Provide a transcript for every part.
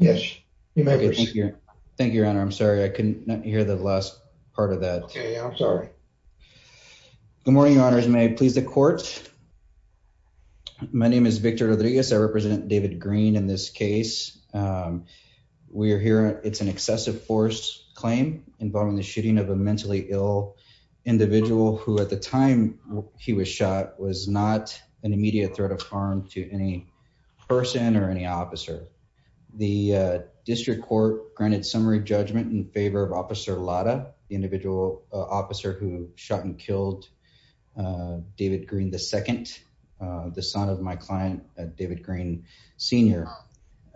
Good morning, Your Honors. May I please the court? My name is Victor Rodriguez. I represent David Green in this case. We are here. It's an excessive force claim involving the shooting of a mentally ill individual who, at the time he was shot, was not an immediate threat of any person or any officer. The district court granted summary judgment in favor of Officer Lada, the individual officer who shot and killed David Green II, the son of my client, David Green Sr.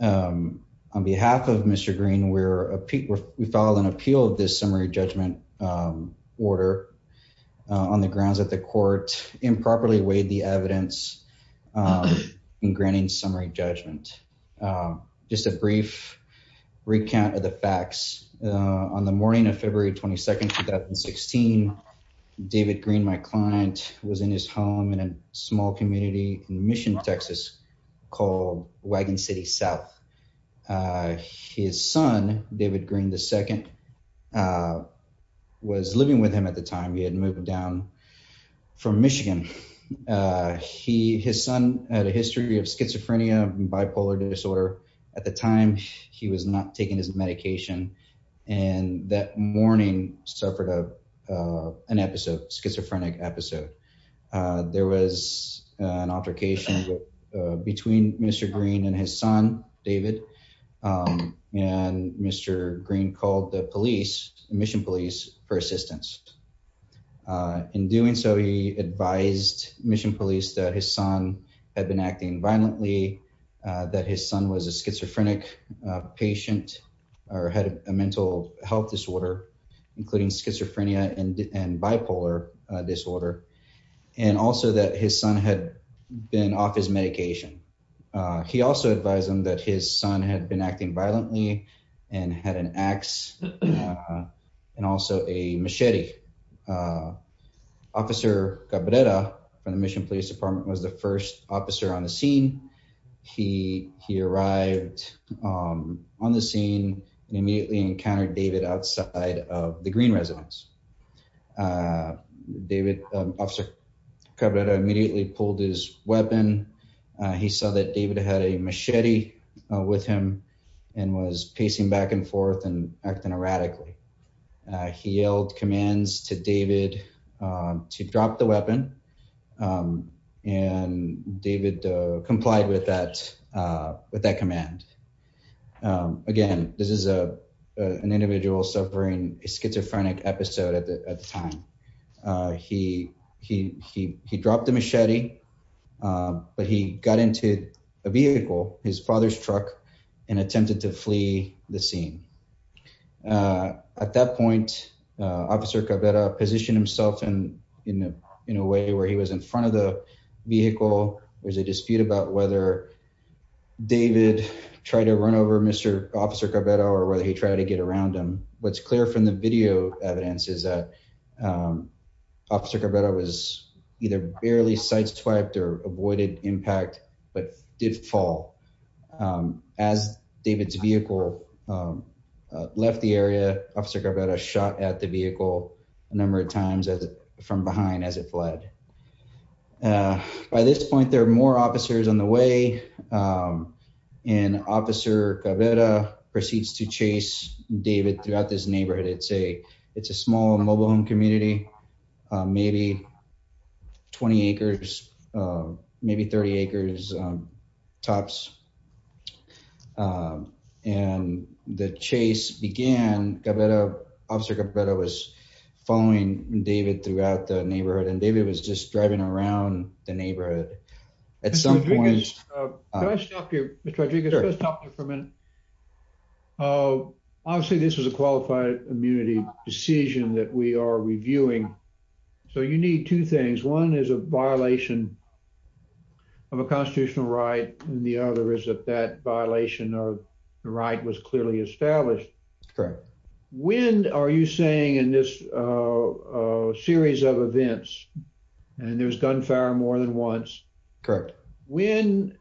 On behalf of Mr. Green, we filed an appeal of this summary judgment order on the grounds that the court improperly weighed the evidence in granting summary judgment. Just a brief recount of the facts. On the morning of February 22, 2016, David Green, my client, was in his home in a small community in Mission, Texas, called Wagon City South. His son, David Green II, was living with him at the time. He had moved down from Michigan. His son had a history of schizophrenia and bipolar disorder. At the time, he was not taking his medication, and that morning suffered an episode, a schizophrenic episode. There was an altercation between Mr. Green and his son, David, and Mr. Green called the police, Mission Police, for assistance. In doing so, he advised Mission Police that his son had been acting violently, that his son was a schizophrenic patient or had a mental health disorder, including schizophrenia and bipolar disorder, and also that his son had been off his medication. He also advised them that his son had been acting violently and had an axe and also a machete. Officer Cabrera from the Mission Police Department was the first officer on the scene. He arrived on the scene and immediately encountered David outside of the Green residence. David, Officer Cabrera immediately pulled his weapon. He saw that David had a machete with him and was pacing back and forth and acting erratically. He yelled commands to David to drop the weapon, and David complied with that command. Again, this is an individual suffering a schizophrenic episode at the time. He dropped the machete, but he got into a vehicle, his father's truck, and attempted to flee the scene. At that point, Officer Cabrera positioned himself in a way where he was in front of the vehicle. There's a dispute about whether David tried to run over Officer Cabrera or whether he tried to get around him. What's clear from the video evidence is that Officer Cabrera was either barely sideswiped or avoided impact, but did fall. As David's vehicle left the area, Officer Cabrera shot at the vehicle a number of times from behind as it fled. By this point, there are more officers on the way, and Officer Cabrera proceeds to chase David throughout this neighborhood. It's a small mobile home community, maybe 20 acres, maybe 30 acres tops. The chase began, Officer Cabrera was following David throughout the neighborhood. Mr. Rodriguez, can I stop you for a minute? Obviously, this is a qualified immunity decision that we are reviewing, so you need two things. One is a violation of a constitutional right, and the other is that that violation of the right was clearly established. Correct. When are you saying in this series of events, and there's gunfire more than once, when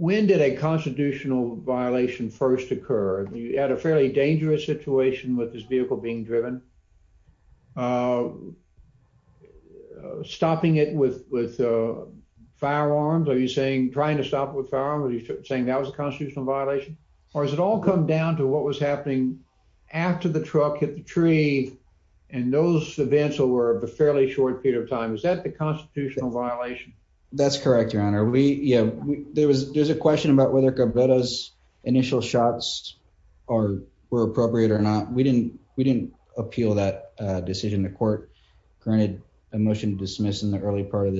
did a constitutional violation first occur? You had a fairly dangerous situation with this vehicle being driven. Stopping it with firearms, are you saying trying to stop it with firearms, are you saying that was a constitutional violation? Or has it all come down to what was happening after the truck hit the tree, and those events were a fairly short period of time? Is that the constitutional violation? That's correct, Your Honor. There's a question about whether Cabrera's initial shots were appropriate or not. We didn't appeal that decision. The court granted a motion to dismiss in the early part of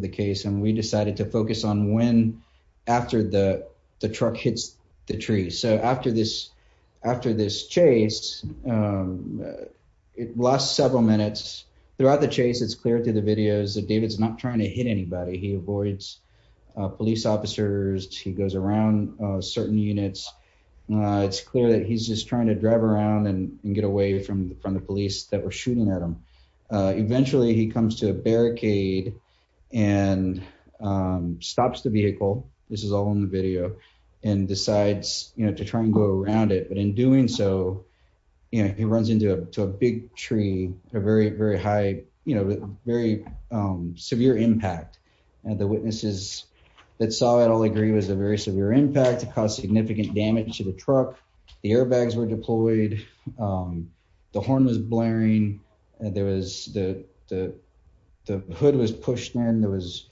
the case, and we decided to focus on when after the truck hits the tree. So after this chase, it lasts several minutes. Throughout the chase, it's clear through the videos that David's not trying to hit anybody. He avoids police officers. He goes around certain units. It's clear that he's just trying to drive around and get away from the police that were shooting at him. Eventually, he comes to a barricade and stops the vehicle. This is all in the video, and decides to try and go around it. But in doing so, he runs into a big tree with a very severe impact. The witnesses that saw it all agree it was a very severe impact. It caused significant damage to the truck. The airbags were deployed. The horn was blaring. The hood was pushed in. There was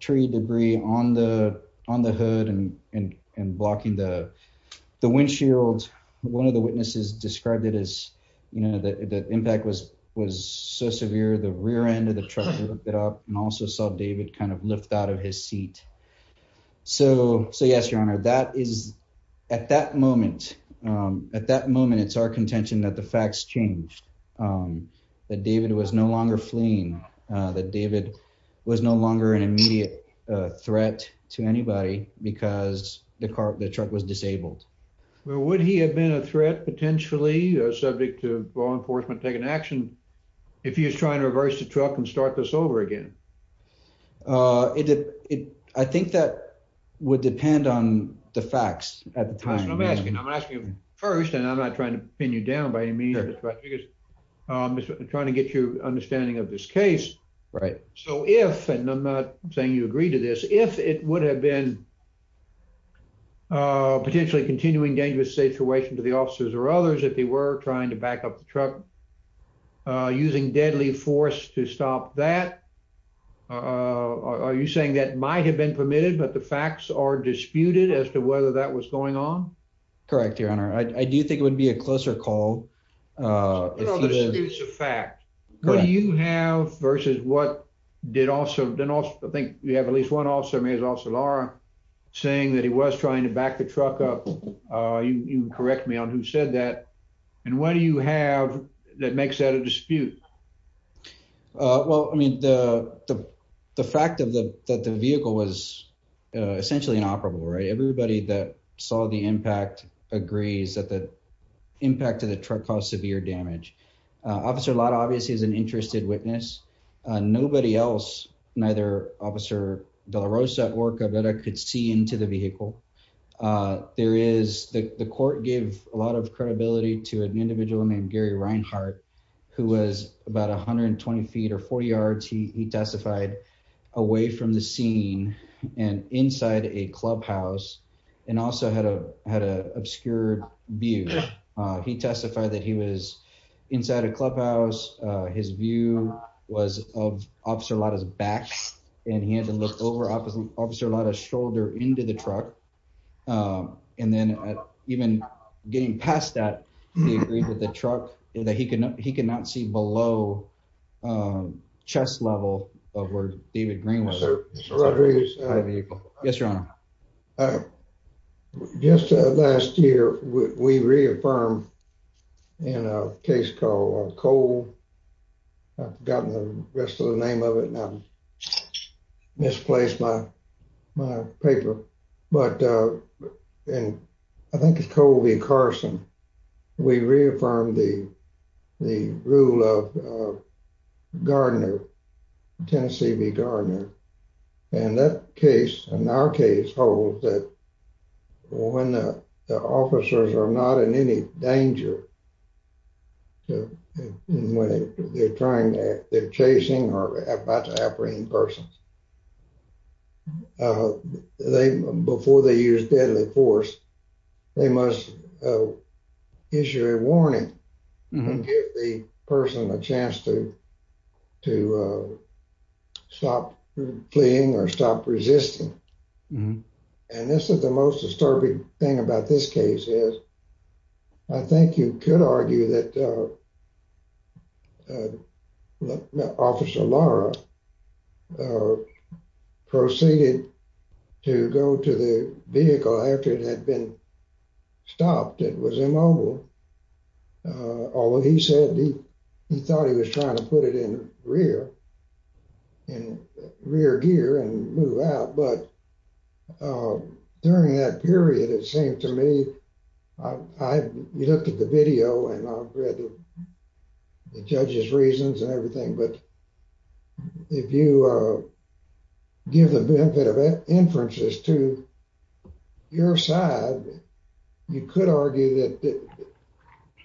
tree debris on the hood and blocking the windshield. One of the witnesses described it as the impact was so severe, the rear end of the truck lifted up and also saw David lift out his seat. So yes, Your Honor, at that moment, it's our contention that the facts changed. That David was no longer fleeing. That David was no longer an immediate threat to anybody because the truck was disabled. Well, would he have been a threat potentially, subject to law enforcement taking action, if he was trying to reverse the truck and start this over again? I think that would depend on the facts at the time. I'm asking you first, and I'm not trying to pin you down by any means. I'm just trying to get your understanding of this case. So if, and I'm not saying you agree to this, if it would have been a potentially continuing dangerous situation to the officers or others, if they were trying to back up the truck, using deadly force to stop that, are you saying that might have been permitted, but the facts are disputed as to whether that was going on? Correct, Your Honor. I do think it would be a closer call. It's a fact. What do you have versus what did also, I think you have at least one officer, maybe it was Officer Lara, saying that he was trying to back the truck up. You can correct me on who said that. And what do you have that makes that a dispute? Well, I mean, the fact that the vehicle was essentially inoperable, right? Everybody that saw the impact agrees that the impact of the truck caused severe damage. Officer Lara obviously is interested witness. Nobody else, neither Officer De La Rosa or Cabrera could see into the vehicle. There is, the court gave a lot of credibility to an individual named Gary Reinhart, who was about 120 feet or 40 yards, he testified, away from the scene and inside a clubhouse, and also had an obscure view. He testified that he was inside a clubhouse, his view was of Officer Lara's back, and he had to look over Officer Lara's shoulder into the truck. And then even getting past that, he agreed that the truck, that he could not see below the chest level of where David Green was. Mr. Rodriguez, just last year, we reaffirmed in a case called Cole, I've forgotten the rest of the name of it, and I've misplaced my paper, but in, I think it's Cole v. Carson, we reaffirmed the rule of Gardner, Tennessee v. Gardner, and that case, and our case, holds that when the officers are not in any danger, and when they're trying to, they're chasing or about to apprehend persons, they, before they use deadly force, they must issue a warning, and give the person a chance to, to stop fleeing or stop resisting. And this is the most disturbing thing about this case is, I think you could argue that Officer Lara proceeded to go to the vehicle after it had been stopped, it was immobile, although he said he, he thought he was trying to put it in rear, in rear gear and move out, but during that period, it seemed to me, I, we looked at the video, and I've read the judge's reasons and everything, but if you give the benefit of inferences to your side, you could argue that,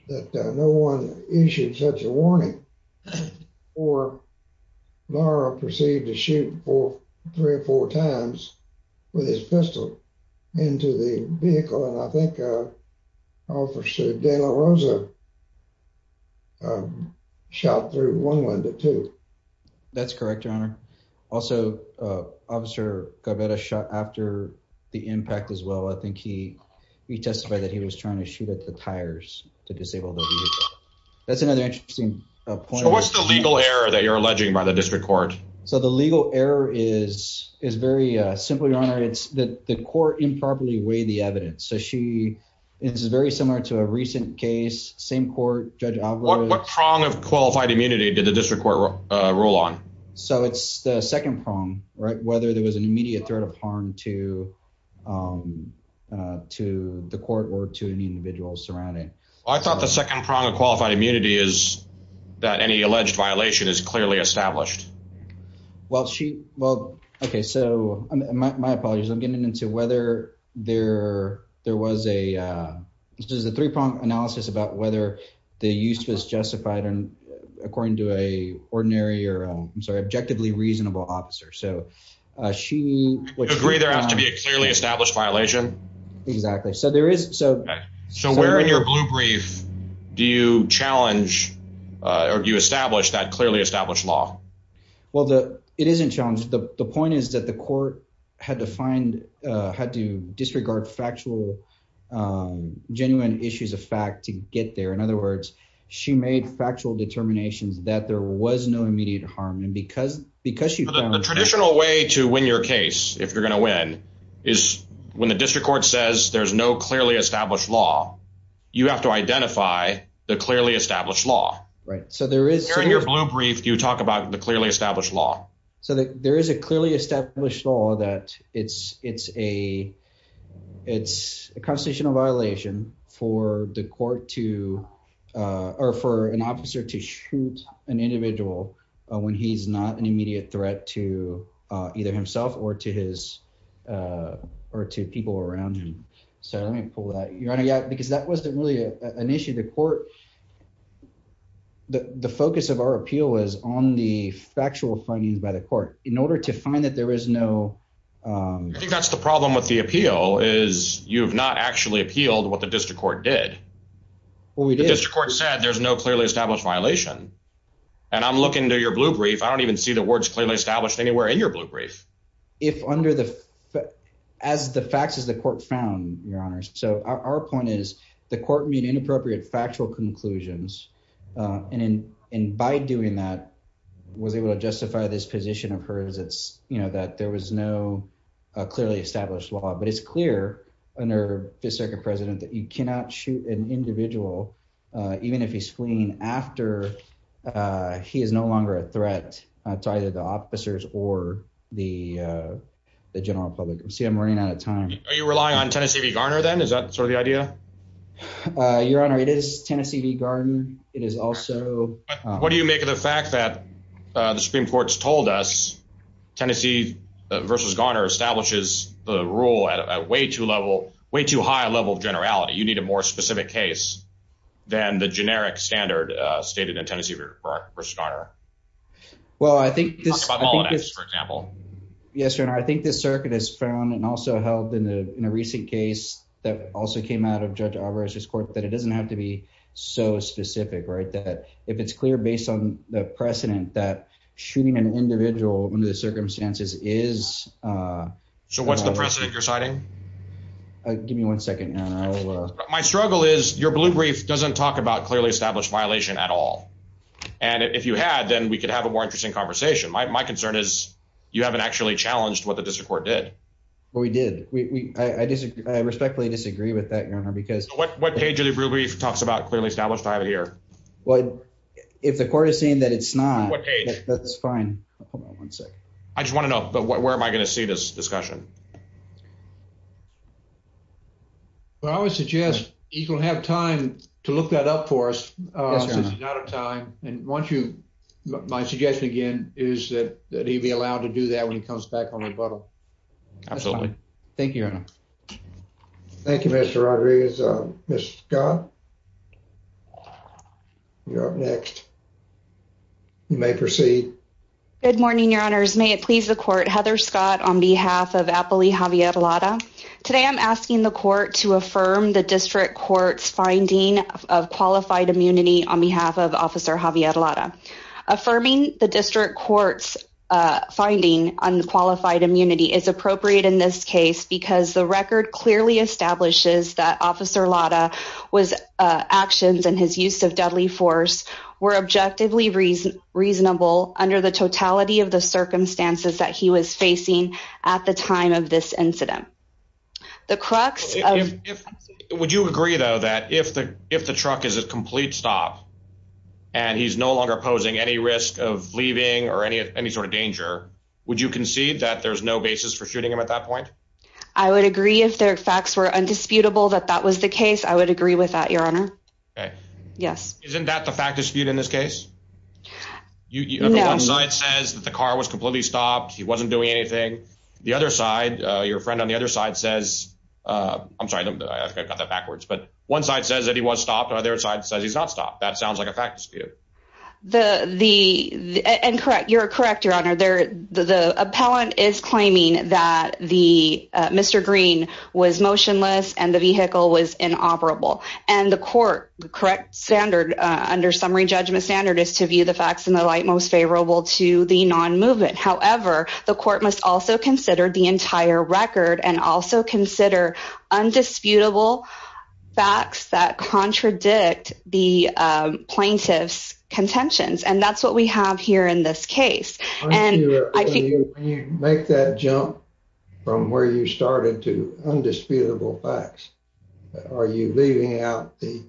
that no one issued such a warning, or Lara proceeded to shoot four, three or four times with his pistol into the vehicle, and I think Officer De La Rosa shot through one window too. That's correct, your honor. Also, Officer Garverda shot after the impact as well, I think he, he testified that he was trying to shoot at the tires to disable the vehicle. That's another interesting point. So what's the legal error that you're alleging by the district court? So the legal error is, is very simple, your honor, it's that the court improperly weighed the evidence, so she, it's very similar to a recent case, same court, Judge Alvarez. What prong of qualified immunity did the district court rule on? So it's the second prong, right, whether there was an immediate threat of harm to, to the court or to an individual surrounding. I thought the second prong of qualified immunity is that any alleged violation is clearly established. Well, she, well, okay, so my apologies, I'm getting into whether there, there was a, this is a three-prong analysis about whether the use was justified and according to a ordinary or, I'm sorry, objectively reasonable officer. So she, you agree there has to be a clearly established violation? Exactly. So there is, so, so when you're blue brief, do you challenge or do you establish that clearly established law? Well, the, it isn't challenged. The point is that the court had to find, had to disregard factual, genuine issues of fact to get there. In other words, she made factual determinations that there was no immediate harm. And because, because she found- The traditional way to win your case, if you're going to win, is when the district court says there's no clearly established law, you have to identify the clearly established law. Right. So there is- Here in your blue brief, you talk about the clearly established law. So there is a clearly established law that it's, it's a, it's a constitutional violation for the court to, or for an officer to shoot an individual when he's not an immediate threat to either himself or to his, or to people around him. So let me pull that. Your Honor, yeah, because that wasn't really an issue. The court, the focus of our appeal was on the factual findings by the court in order to find that there was no- I think that's the problem with the appeal is you've not actually appealed what the district court did. Well, we did. The district court said there's no clearly established violation. And I'm looking into your blue brief. I don't even see the words clearly established anywhere in your blue brief. If under the, as the facts as the court found, Your Honors. So our point is the court made inappropriate factual conclusions. And, and by doing that, was able to justify this position of hers. It's, you know, that there was no clearly established law, but it's clear under the circuit president that you cannot shoot an individual after he is no longer a threat to either the officers or the general public. See, I'm running out of time. Are you relying on Tennessee v. Garner then? Is that sort of the idea? Your Honor, it is Tennessee v. Garner. It is also- What do you make of the fact that the Supreme Court's told us Tennessee versus Garner establishes the rule at a way too level, way too high a level of generality. You need a more specific case than the generic standard stated in Tennessee v. Garner. Well, I think this- Talk about all of that, for example. Yes, Your Honor. I think the circuit has found and also held in a recent case that also came out of Judge Alvarez's court, that it doesn't have to be so specific, right? That if it's clear based on the precedent that shooting an individual under the circumstances is- So what's the precedent you're citing? Give me one second. My struggle is your blue brief doesn't talk about clearly established violation at all. And if you had, then we could have a more interesting conversation. My concern is you haven't actually challenged what the district court did. Well, we did. I respectfully disagree with that, Your Honor, because- What page of the blue brief talks about clearly established? I have it here. Well, if the court is saying that it's not- What page? That's fine. Hold on one second. I just want to know, but where am I going to see this discussion? Well, I would suggest you can have time to look that up for us. Yes, Your Honor. Since you're out of time. And once you- My suggestion, again, is that he'd be allowed to do that when he comes back on rebuttal. Absolutely. Thank you, Your Honor. Thank you, Mr. Rodriguez. Ms. Scott, you're up next. You may proceed. Good morning, Your Honors. May it please the court. Heather Scott on behalf of Appali Affirm the district court's finding of qualified immunity on behalf of Officer Javier Lata. Affirming the district court's finding on qualified immunity is appropriate in this case because the record clearly establishes that Officer Lata's actions and his use of deadly force were objectively reasonable under the totality of the circumstances that he was facing at the time of this incident. The crux of- Would you agree, though, that if the truck is a complete stop and he's no longer posing any risk of leaving or any sort of danger, would you concede that there's no basis for shooting him at that point? I would agree if the facts were undisputable that that was the case. I would agree with that, Your Honor. Okay. Yes. Isn't that the fact dispute in this case? No. The one side says that the car was completely stopped. He wasn't doing anything. The other I think I got that backwards, but one side says that he was stopped. The other side says he's not stopped. That sounds like a fact dispute. You're correct, Your Honor. The appellant is claiming that Mr. Green was motionless and the vehicle was inoperable. And the court, the correct standard under summary judgment standard is to view the facts in the light most favorable to the non-movement. However, the court must also consider the entire record and also consider undisputable facts that contradict the plaintiff's contentions. And that's what we have here in this case. When you make that jump from where you started to undisputable facts, are you leaving out the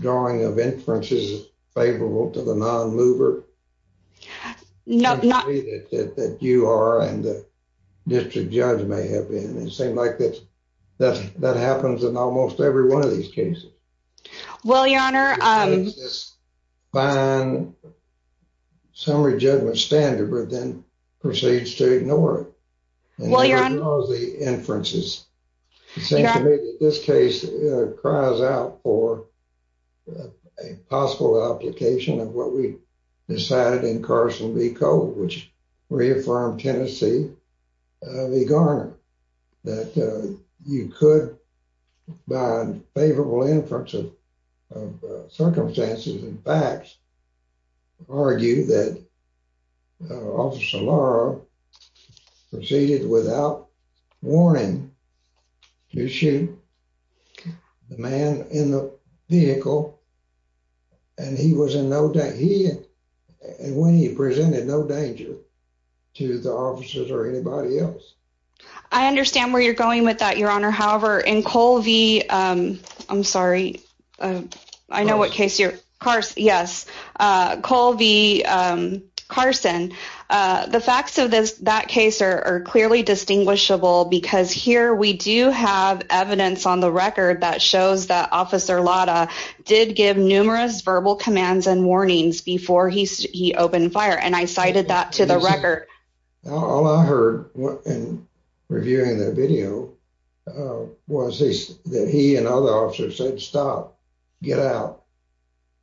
drawing of inferences favorable to the non-mover? No, no. It seems to me that you are and the district judge may have been. It seems like that happens in almost every one of these cases. Well, Your Honor. Because it's this fine summary judgment standard, but then proceeds to ignore it. Well, Your Honor. And ignores the inferences. It seems to me that this case cries out for a possible application of what we decided in Carson v. Cole, which reaffirmed Tennessee v. Garner, that you could, by favorable inference of circumstances and facts, argue that Officer Laura proceeded without warning to shoot the man in the vehicle. And when he presented no danger to the officers or anybody else. I understand where you're going with that, Your Honor. However, in Cole v. Carson, the facts of that case are clearly distinguishable because here we do have evidence on the record that shows that Officer Laura did give numerous verbal commands and warnings before he opened fire. And I cited that to the record. All I heard in reviewing the video was that he and other officers said, stop, get out.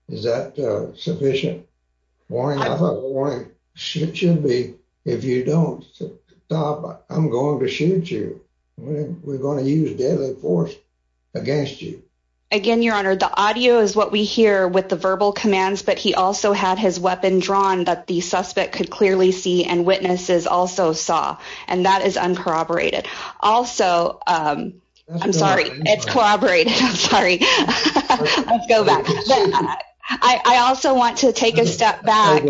Is that sufficient? Warning, I don't want to shoot you. If you don't stop, I'm going to shoot you. We're going to use deadly force against you. Again, Your Honor, the audio is what we hear with the verbal commands, but he also had his weapon drawn that the suspect could clearly see and witnesses also saw. And that is uncorroborated. Also, I'm sorry, it's corroborated. I'm sorry. Let's go back. I also want to take a step back.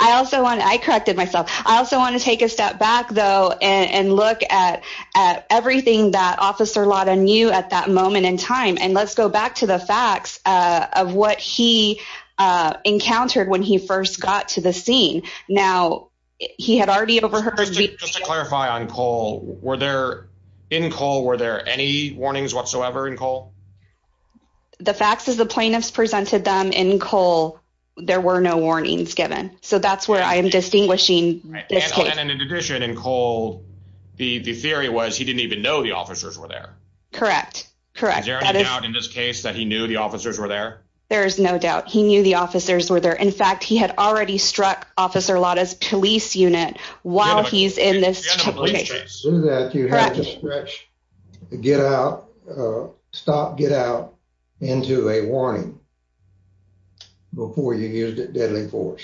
I also want to, I corrected myself. I also want to take a step back though and look at everything that Officer Laura knew at that moment in time. And let's go back to the facts of what he encountered when he first got to the scene. Now, he had already overheard. Just to clarify on Cole, were there, in Cole, were there any warnings whatsoever in Cole? The facts is the plaintiffs presented them in Cole. There were no warnings given. So that's where I am distinguishing. And in addition, in Cole, the theory was he didn't even know the officers were there. Correct. Correct. Is there any doubt in this case that he knew the officers were there? There is no doubt. He knew the officers were there. In fact, he had already struck Officer Lotta's police unit while he's in this situation. You had to stretch, get out, stop, get out into a warning before you used deadly force.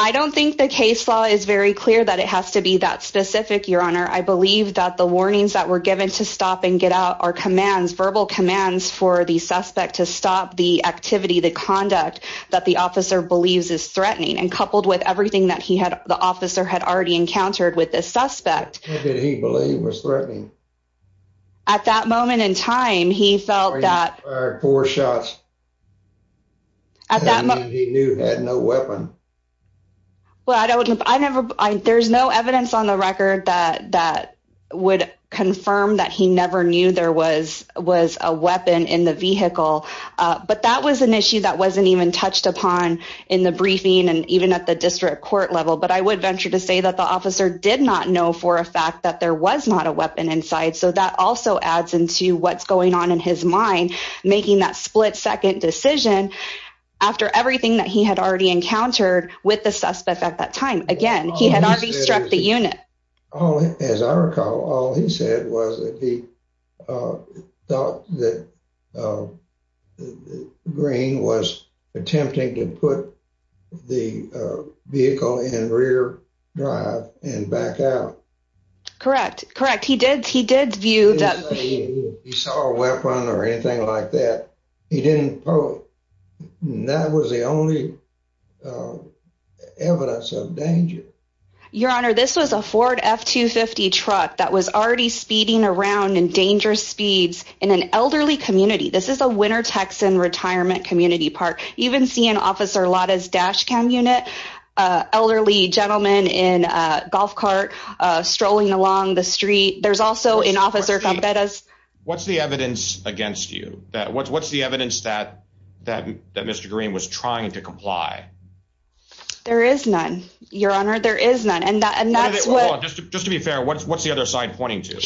I don't think the case law is very clear that it has to be that specific, Your Honor. I believe that the warnings that were given to stop and get out are commands, verbal commands for the suspect to stop the activity, the conduct that the officer believes is threatening. And coupled with everything that he had, the officer had already encountered with this suspect. What did he believe was threatening? At that moment in time, he felt that- He fired four shots. He knew he had no weapon. There's no evidence on the record that would confirm that he never knew there was a weapon in the vehicle. But that was an issue that wasn't even touched upon in the briefing and even at the fact that there was not a weapon inside. So that also adds into what's going on in his mind, making that split second decision after everything that he had already encountered with the suspect at that time. Again, he had already struck the unit. As I recall, all he said was that he thought that Green was attempting to put the vehicle in rear drive and back out. Correct. Correct. He did. He did view that. He saw a weapon or anything like that. He didn't pull it. That was the only evidence of danger. Your Honor, this was a Ford F-250 truck that was already speeding around in dangerous speeds in an elderly community. This is a winter Texan retirement community park. You even see an Officer Lada's dash cam unit, an elderly gentleman in a golf cart strolling along the street. There's also an officer- What's the evidence against you? What's the evidence that Mr. Green was trying to comply? There is none, Your Honor. There is none. And that's what- Just to be fair, what's the other side pointing to?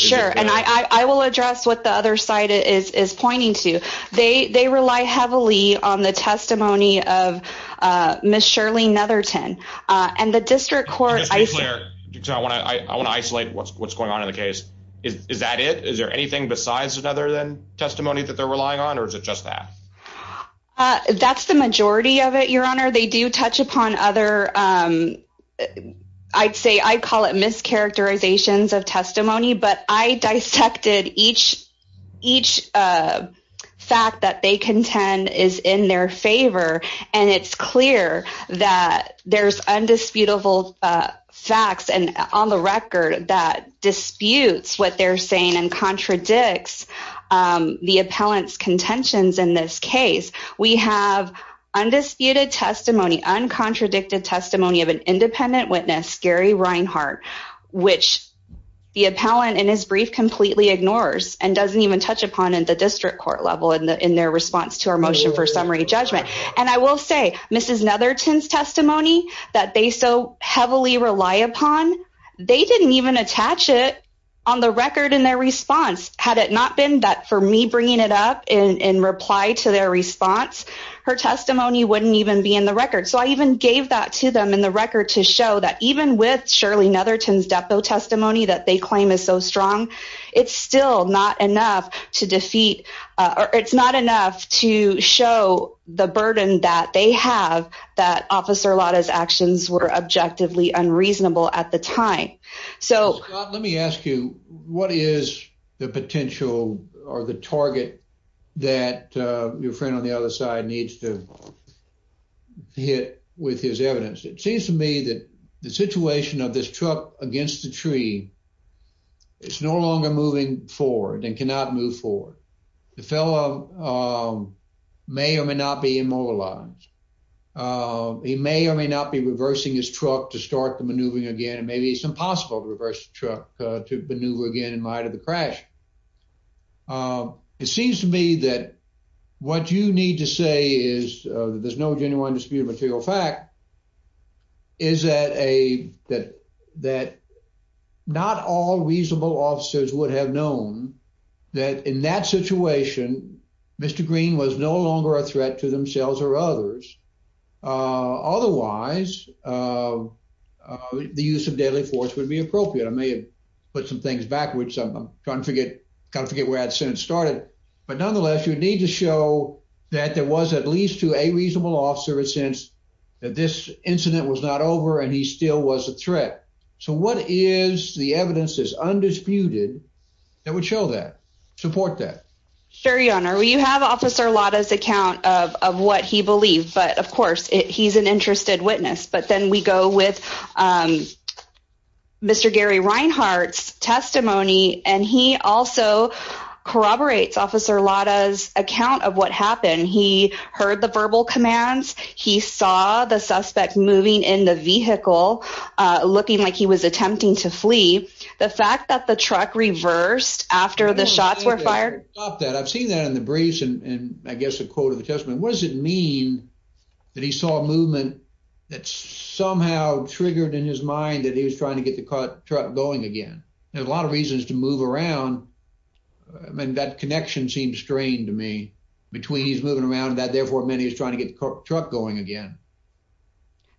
I will address what the other side is pointing to. They rely heavily on the testimony of Ms. Shirley Netherton. I want to isolate what's going on in the case. Is that it? Is there anything besides the testimony that they're relying on, or is it just that? That's the majority of it, Your Honor. They do touch upon other- I'd call it mischaracterizations of testimony, but I dissected each fact that they contend is in their favor. And it's clear that there's undisputable facts on the record that disputes what they're saying and contradicts the appellant's contentions in this case. We have undisputed testimony, uncontradicted testimony of an independent witness, Gary Reinhart, which the appellant in his brief completely ignores and doesn't even touch upon in the district court level in their response to our motion for summary judgment. And I will say, Ms. Netherton's testimony that they so heavily rely upon, they didn't even attach it on the record in their response. Had it not been that for me bringing it up in reply to their response, her testimony wouldn't even be in the record. So I even gave that to them in the record to show that even with Shirley Netherton's depo testimony that they claim is so strong, it's still not enough to defeat- it's not enough to show the burden that they have that Officer Lada's actions were objectively unreasonable at the time. Scott, let me ask you, what is the potential or the target that your friend on the other side needs to hit with his evidence? It seems to me that the situation of this truck against the tree, it's no longer moving forward and cannot move forward. The fellow may or may not be immobilized. He may or may not be reversing his truck to start the maneuvering again, and maybe it's impossible to reverse the truck to maneuver again in light of the crash. It seems to me that what you need to say is that there's no genuine dispute of material fact, is that not all reasonable officers would have known that in that situation, Mr. Green was no longer a threat to themselves or others. Otherwise, the use of deadly force would be appropriate. I may have put some things backwards. I'm trying to forget where I'd said it but nonetheless, you need to show that there was at least to a reasonable officer a sense that this incident was not over and he still was a threat. So what is the evidence that's undisputed that would show that, support that? Sure, your honor. Well, you have Officer Lada's account of what he believed, but of course he's an interested witness. But then we go with Mr. Gary Reinhart's testimony and he also corroborates Officer Lada's account of what happened. He heard the verbal commands, he saw the suspect moving in the vehicle, looking like he was attempting to flee. The fact that the truck reversed after the shots were fired. Stop that. I've seen that in the briefs and I guess a quote of the testament. What does it mean that he saw a movement that somehow triggered in his mind that he was trying to get the truck going again? There's a lot of reasons to move around. I mean, that connection seems strained to me between he's moving around that therefore meant he was trying to get the truck going again.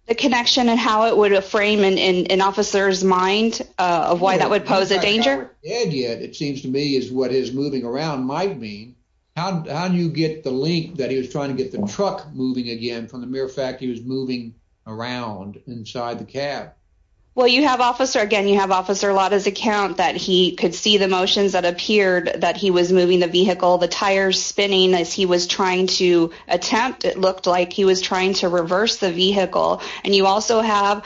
The connection and how it would frame in an officer's mind of why that would pose a danger? It seems to me is what his moving around might mean. How do you get the link that he was trying to get the truck moving again from the mere fact he was moving around inside the cab? Well, you have officer again, you have Officer Lada's account that he could see the motions that appeared that he was moving the vehicle, the tires spinning as he was trying to attempt. It looked like he was trying to reverse the vehicle. And you also have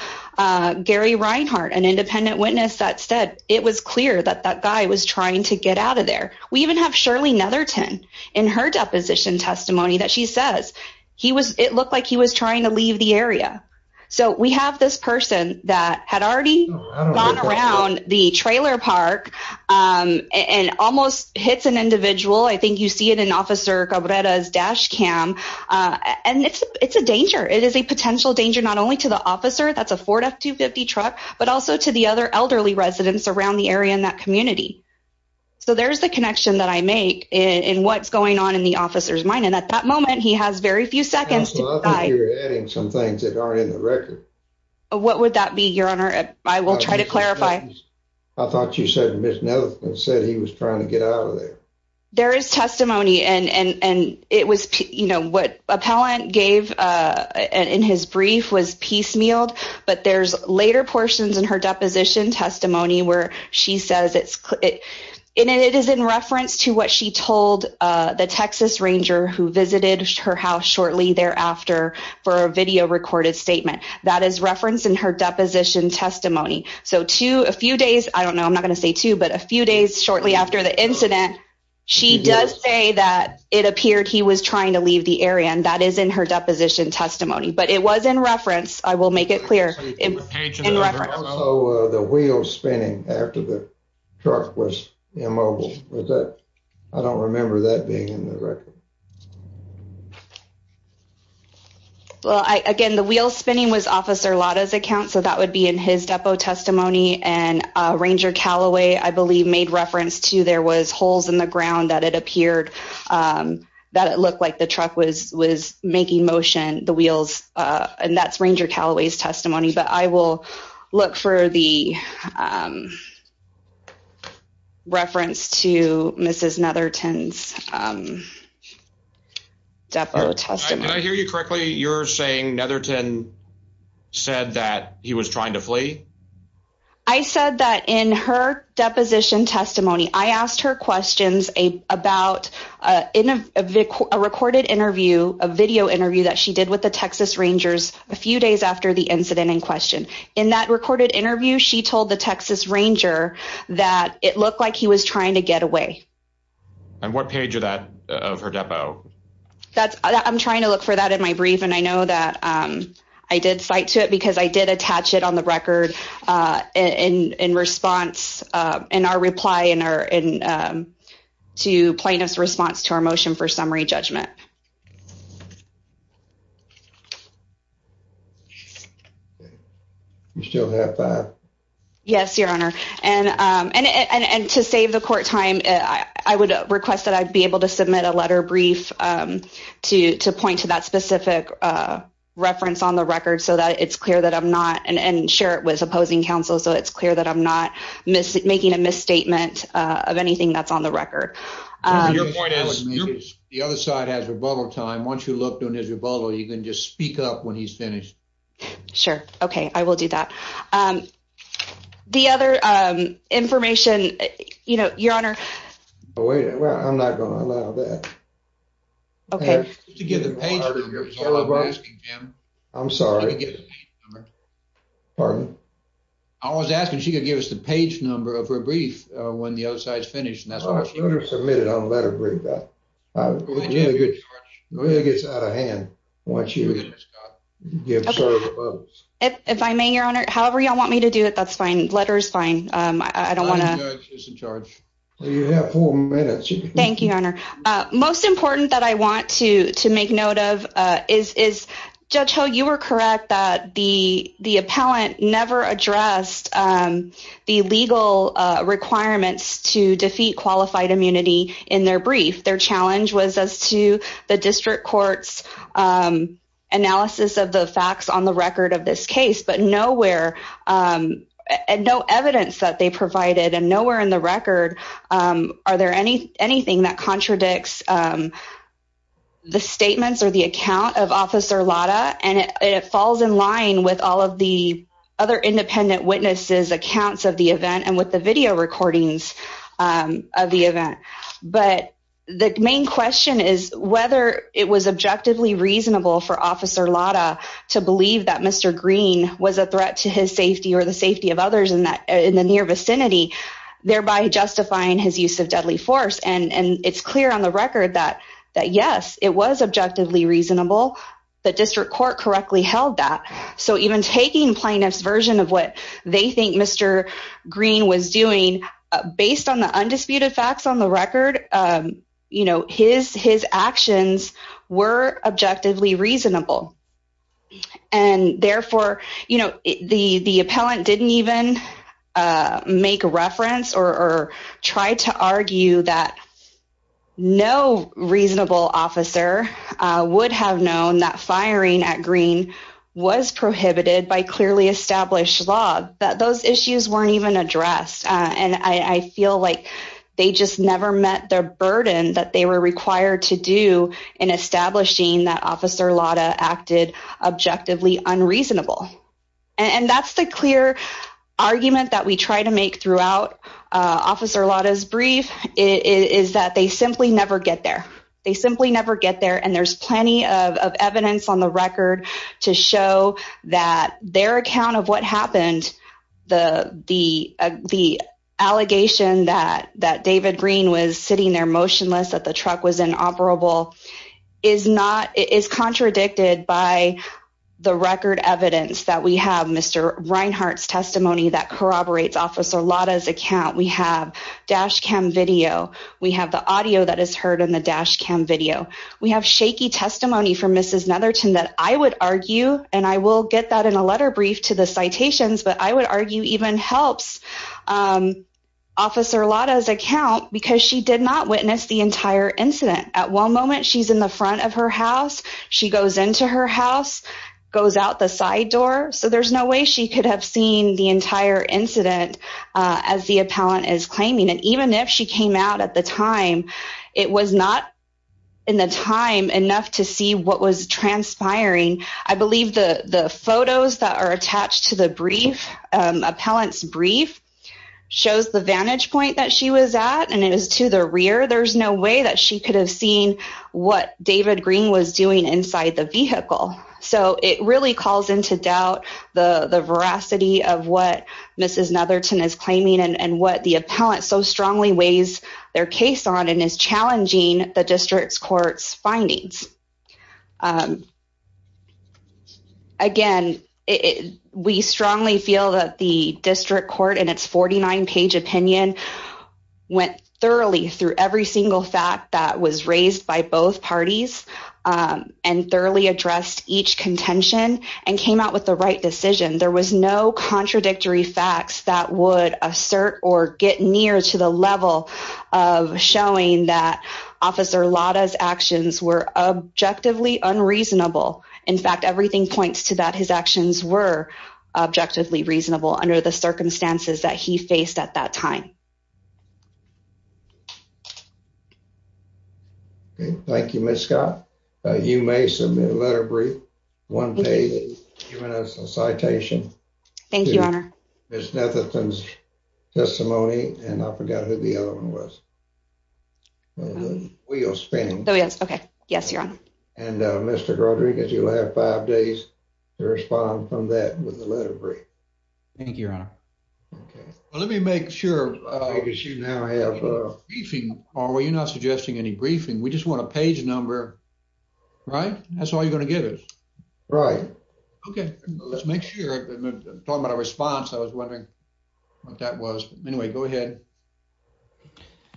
Gary Reinhart, an independent witness that said it was clear that that guy was trying to get out of there. We even have Shirley Netherton in her deposition testimony that she says it looked like he was trying to leave the area. So we have this person that had already gone around the trailer park and almost hits an individual. I think you see it in Officer Cabrera's dash cam. And it's a danger. It is a potential danger not only to the officer, that's a Ford F-250 truck, but also to the other elderly residents around the area in that community. So there's the connection that I make in what's going on in the officer's mind. And at that moment, he has very few seconds to die. I think you're adding some things that aren't in the record. What would that be, Your Honor? I will try to clarify. I thought you said Ms. Netherton said he was trying to get out of there. There is testimony and it was, you know, what appellant gave in his brief was piecemealed. But there's later portions in her deposition testimony where she says it is in reference to what she told the Texas Ranger who visited her house shortly thereafter for a video recorded statement. That is referenced in her deposition testimony. So two, a few days, I don't know, I'm not going to say two, but a few days shortly after the incident, she does say that it appeared he was trying to leave the area. And that is in her wheel spinning after the truck was immobile. I don't remember that being in the record. Well, again, the wheel spinning was Officer Lada's account, so that would be in his depo testimony. And Ranger Calloway, I believe, made reference to there was holes in the ground that it appeared that it looked like the truck was making motion, the wheels. And that's Ranger Calloway's testimony. But I will look for the reference to Mrs. Netherton's depo testimony. Did I hear you correctly? You're saying Netherton said that he was trying to flee? I said that in her deposition testimony, I asked her questions about a recorded interview, a video interview that she did with the Texas Rangers a few days after the incident in question. In that recorded interview, she told the Texas Ranger that it looked like he was trying to get away. And what page of her depo? I'm trying to look for that in my brief. And I know that I did cite to it because I did attach it on the record in response, in our reply, to plaintiff's response to our motion for summary judgment. You still have that? Yes, Your Honor. And to save the court time, I would request that I'd be able to submit a letter brief to point to that specific reference on the record so that it's clear that I'm not, and share it with opposing counsel, so it's clear that I'm not making a misstatement of anything that's on the record. Your point is, the other side has rebuttal time. Once you looked on his rebuttal, you can just speak up when he's finished. Sure. Okay. I will do that. The other information, Your Honor. I'm not going to allow that. Okay. I'm sorry. Pardon? I was asking if she could give us the page number of her brief when the other side's done. It gets out of hand. If I may, Your Honor, however you want me to do it, that's fine. Letter's fine. I don't want to. You have four minutes. Thank you, Your Honor. Most important that I want to make note of is, Judge Ho, you were correct that the appellant never addressed the legal requirements to defeat qualified immunity in their brief. Their challenge was as to the district court's analysis of the facts on the record of this case, but nowhere, no evidence that they provided, and nowhere in the record are there anything that contradicts the statements or the account of Officer Lada, and it falls in line with all of the other independent witnesses' accounts of the event and with the video recordings of the event. But the main question is whether it was objectively reasonable for Officer Lada to believe that Mr. Green was a threat to his safety or the safety of others in the near vicinity, thereby justifying his use of deadly force. And it's clear on the record that, yes, it was objectively reasonable. The district court correctly held that. So even taking plaintiff's version of what they think Mr. Green was doing, based on the undisputed facts on the record, his actions were objectively reasonable. And therefore, you know, the appellant didn't even make reference or try to argue that no reasonable officer would have known that firing at Green was prohibited by clearly established law, that those issues weren't even addressed. And I feel like they just never met the burden that they were required to do in establishing that Officer Lada acted objectively unreasonable. And that's the clear argument that we try to make throughout Officer Lada's brief, is that they simply never get there. They simply never get there. And there's plenty of evidence on the record to show that their account of what happened, the allegation that David Green was sitting there motionless, that the truck was inoperable, is not, is contradicted by the record evidence that we have. Mr. Reinhart's testimony that corroborates Officer Lada's account. We have dash cam video. We have the audio that is heard in the dash cam video. We have shaky testimony from Mrs. Netherton that I would argue, and I will get that in a letter brief to the citations, but I would argue even helps Officer Lada's account because she did not witness the entire incident. At one moment, she's in the front of her house. She goes into her house, goes out the side door. So there's no way she could have seen the entire incident as the appellant is claiming. And even if she came out at the time, it was not in the time enough to see what was transpiring. I believe the photos that are attached to the brief, appellant's brief, shows the vantage point that she was at and it was to the rear. There's no way that she could have seen what David Green was doing inside the vehicle. So it really calls into doubt the veracity of what Mrs. Netherton is claiming and what the appellant so strongly weighs their case on and is challenging the district court's findings. Again, we strongly feel that the district court in its 49-page opinion went thoroughly through every single fact that was raised by both parties and thoroughly addressed each contention and came out with the right decision. There was no contradictory facts that would assert or get near to the level of showing that Officer Lada's actions were objectively unreasonable. In fact, everything points to that his actions were objectively reasonable under the circumstances that he faced at that time. Thank you, Ms. Scott. You may submit a letter of brief, one page, giving us a citation. Thank you, Your Honor. Ms. Netherton's testimony, and I forgot who the other one was. And Mr. Rodriguez, you'll have five days to respond from that with a letter of brief. Thank you, Your Honor. Well, let me make sure. You're not suggesting any briefing. We just want a page number, right? That's all you're going to give us. Right. Okay. Let's make sure. Talking about a response, I was wondering what that was. Anyway, go ahead.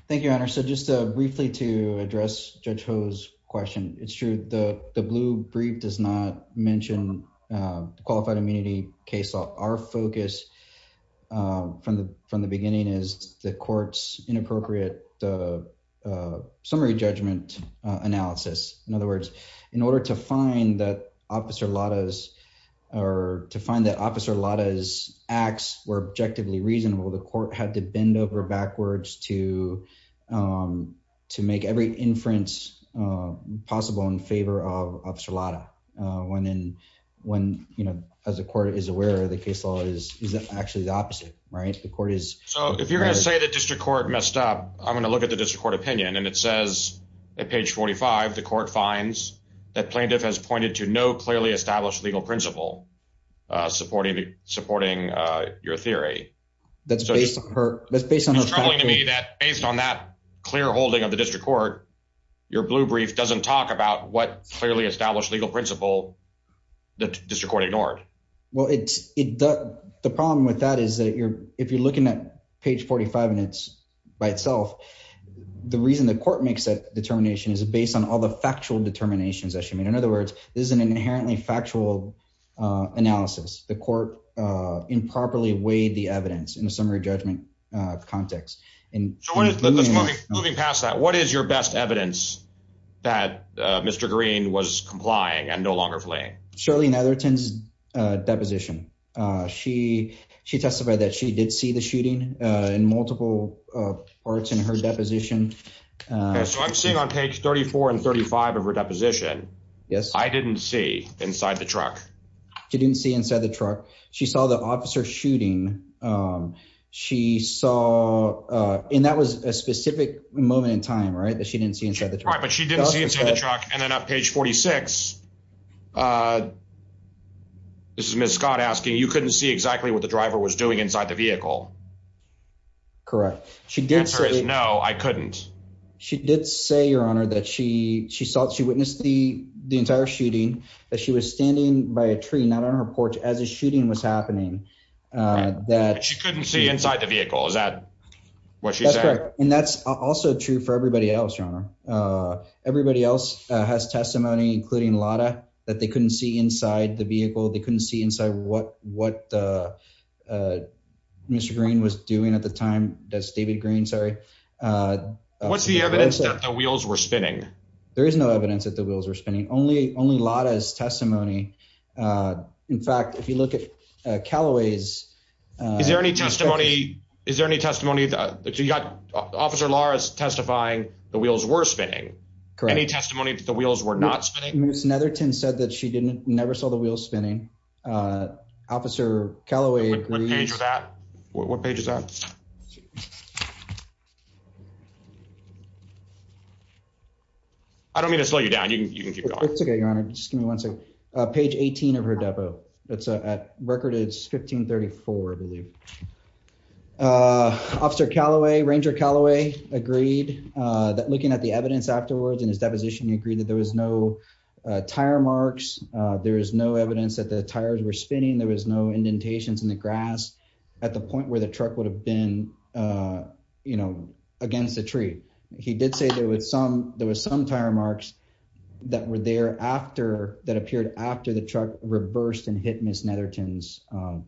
Thank you, Your Honor. So just briefly to address Judge Ho's question, it's true. The blue brief does not mention qualified immunity case law. Our focus from the beginning is the court's inappropriate summary judgment analysis. In other words, in order to find that Officer Lada's acts were objectively reasonable, the court had to bend over backwards to make every inference possible in favor of Officer Lada. When, as the court is aware, the case law is actually the opposite, right? The court is- So if you're going to say the district court messed up, I'm going to look at the district court opinion. And it says at page 45, the court finds that plaintiff has pointed to no clearly established legal principle supporting your theory. That's based on her- Based on that clear holding of the district court, your blue brief doesn't talk about what clearly established legal principle the district court ignored. Well, the problem with that is that if you're looking at page 45 and it's by itself, the reason the court makes that determination is based on all the factual determinations that she made. In other words, this is an inherently factual analysis. The court improperly weighed the evidence in a summary judgment context. So moving past that, what is your best evidence that Mr. Green was complying and no longer fleeing? Shirley Netherton's deposition. She testified that she did see the shooting in multiple parts in her deposition. So I'm seeing on page 34 and 35 of her deposition, I didn't see inside the truck. She didn't see inside the truck. She saw the officer shooting. She saw, and that was a specific moment in time, right, that she didn't see inside the truck. Right, but she didn't see inside the truck. And then on page 46, this is Ms. Scott asking, you couldn't see exactly what the driver was doing inside the vehicle. Correct. She did say- The answer is no, I couldn't. She did say, your honor, that she saw, she witnessed the entire shooting, that she was by a tree, not on her porch, as the shooting was happening, that- She couldn't see inside the vehicle. Is that what she said? That's correct. And that's also true for everybody else, your honor. Everybody else has testimony, including Lada, that they couldn't see inside the vehicle. They couldn't see inside what Mr. Green was doing at the time. That's David Green, sorry. What's the evidence that the wheels were spinning? In fact, if you look at Calloway's- Is there any testimony, is there any testimony that you got, Officer Lara's testifying the wheels were spinning. Correct. Any testimony that the wheels were not spinning? Ms. Netherton said that she didn't, never saw the wheels spinning. Officer Calloway agrees- What page was that? What page is that? I don't mean to slow you down. You can keep going. It's okay, your honor. Just give me one second. Page 18 of her depo. That's at record age 1534, I believe. Officer Calloway, Ranger Calloway, agreed that looking at the evidence afterwards in his deposition, he agreed that there was no tire marks. There is no evidence that the tires were spinning. There was no indentations in the grass at the point where the truck would have been, you know, against the tree. He did say there was some tire marks that were there after, that appeared after the truck reversed and hit Ms. Netherton's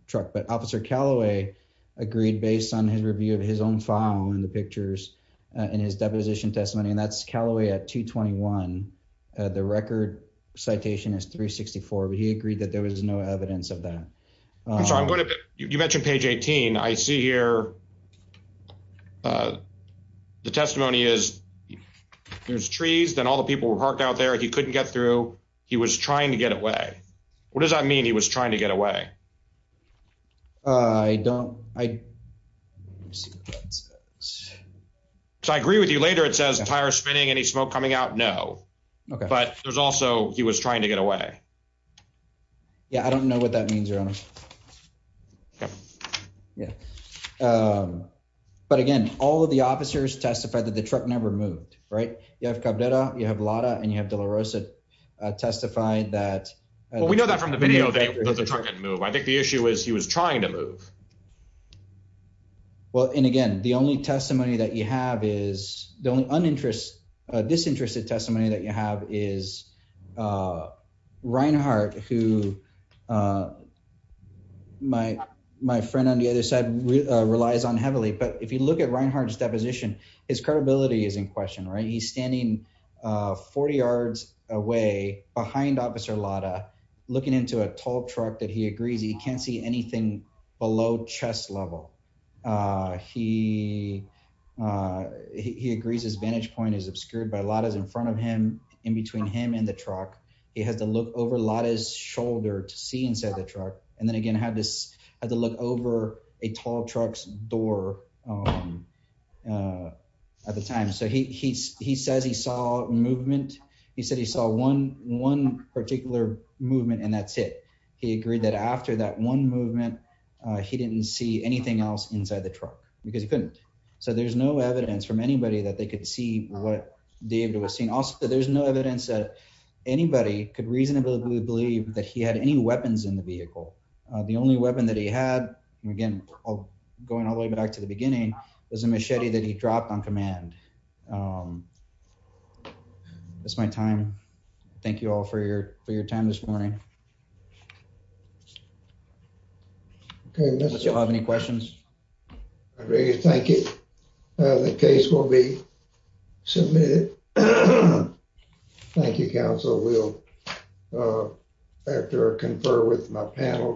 truck. But Officer Calloway agreed based on his review of his own file and the pictures in his deposition testimony, and that's Calloway at 221. The record citation is 364, but he agreed that there was no evidence of that. I'm sorry, I'm going to- You mentioned page 18. I see here, the testimony is there's trees, then all the people were parked out there. He couldn't get through. He was trying to get away. What does that mean, he was trying to get away? I don't, I, let me see what that says. So I agree with you, later it says tire spinning, any smoke coming out, no. Okay. But there's also, he was trying to get away. Yeah, I don't know what that means, your honor. Okay. Yeah. But again, all of the officers testified that the truck never moved, right? You have Cabrera, you have Lara, and you have De La Rosa testify that- Well, we know that from the video that the truck didn't move. I think the issue is he was trying to move. Well, and again, the only testimony that you have is, the only uninterested, disinterested testimony that you have is Reinhardt who my friend on the other side relies on heavily. But if you look at Reinhardt's deposition, his credibility is in question, right? He's standing 40 yards away behind officer Lara, looking into a tall truck that he agrees he can't see anything below chest level. He agrees his vantage point is obscured by Lara's in front of him, in between him and the truck. And then again, had to look over a tall truck's door at the time. So he says he saw movement. He said he saw one particular movement and that's it. He agreed that after that one movement, he didn't see anything else inside the truck because he couldn't. So there's no evidence from anybody that they could see what David was seeing. Also, there's no evidence that anybody could reasonably believe that he had any weapons in the vehicle. The only weapon that he had, and again, going all the way back to the beginning, was a machete that he dropped on command. That's my time. Thank you all for your time this morning. I don't know if you have any questions. I really thank you. The case will be submitted. Thank you, counsel. We'll, after I confer with my panel.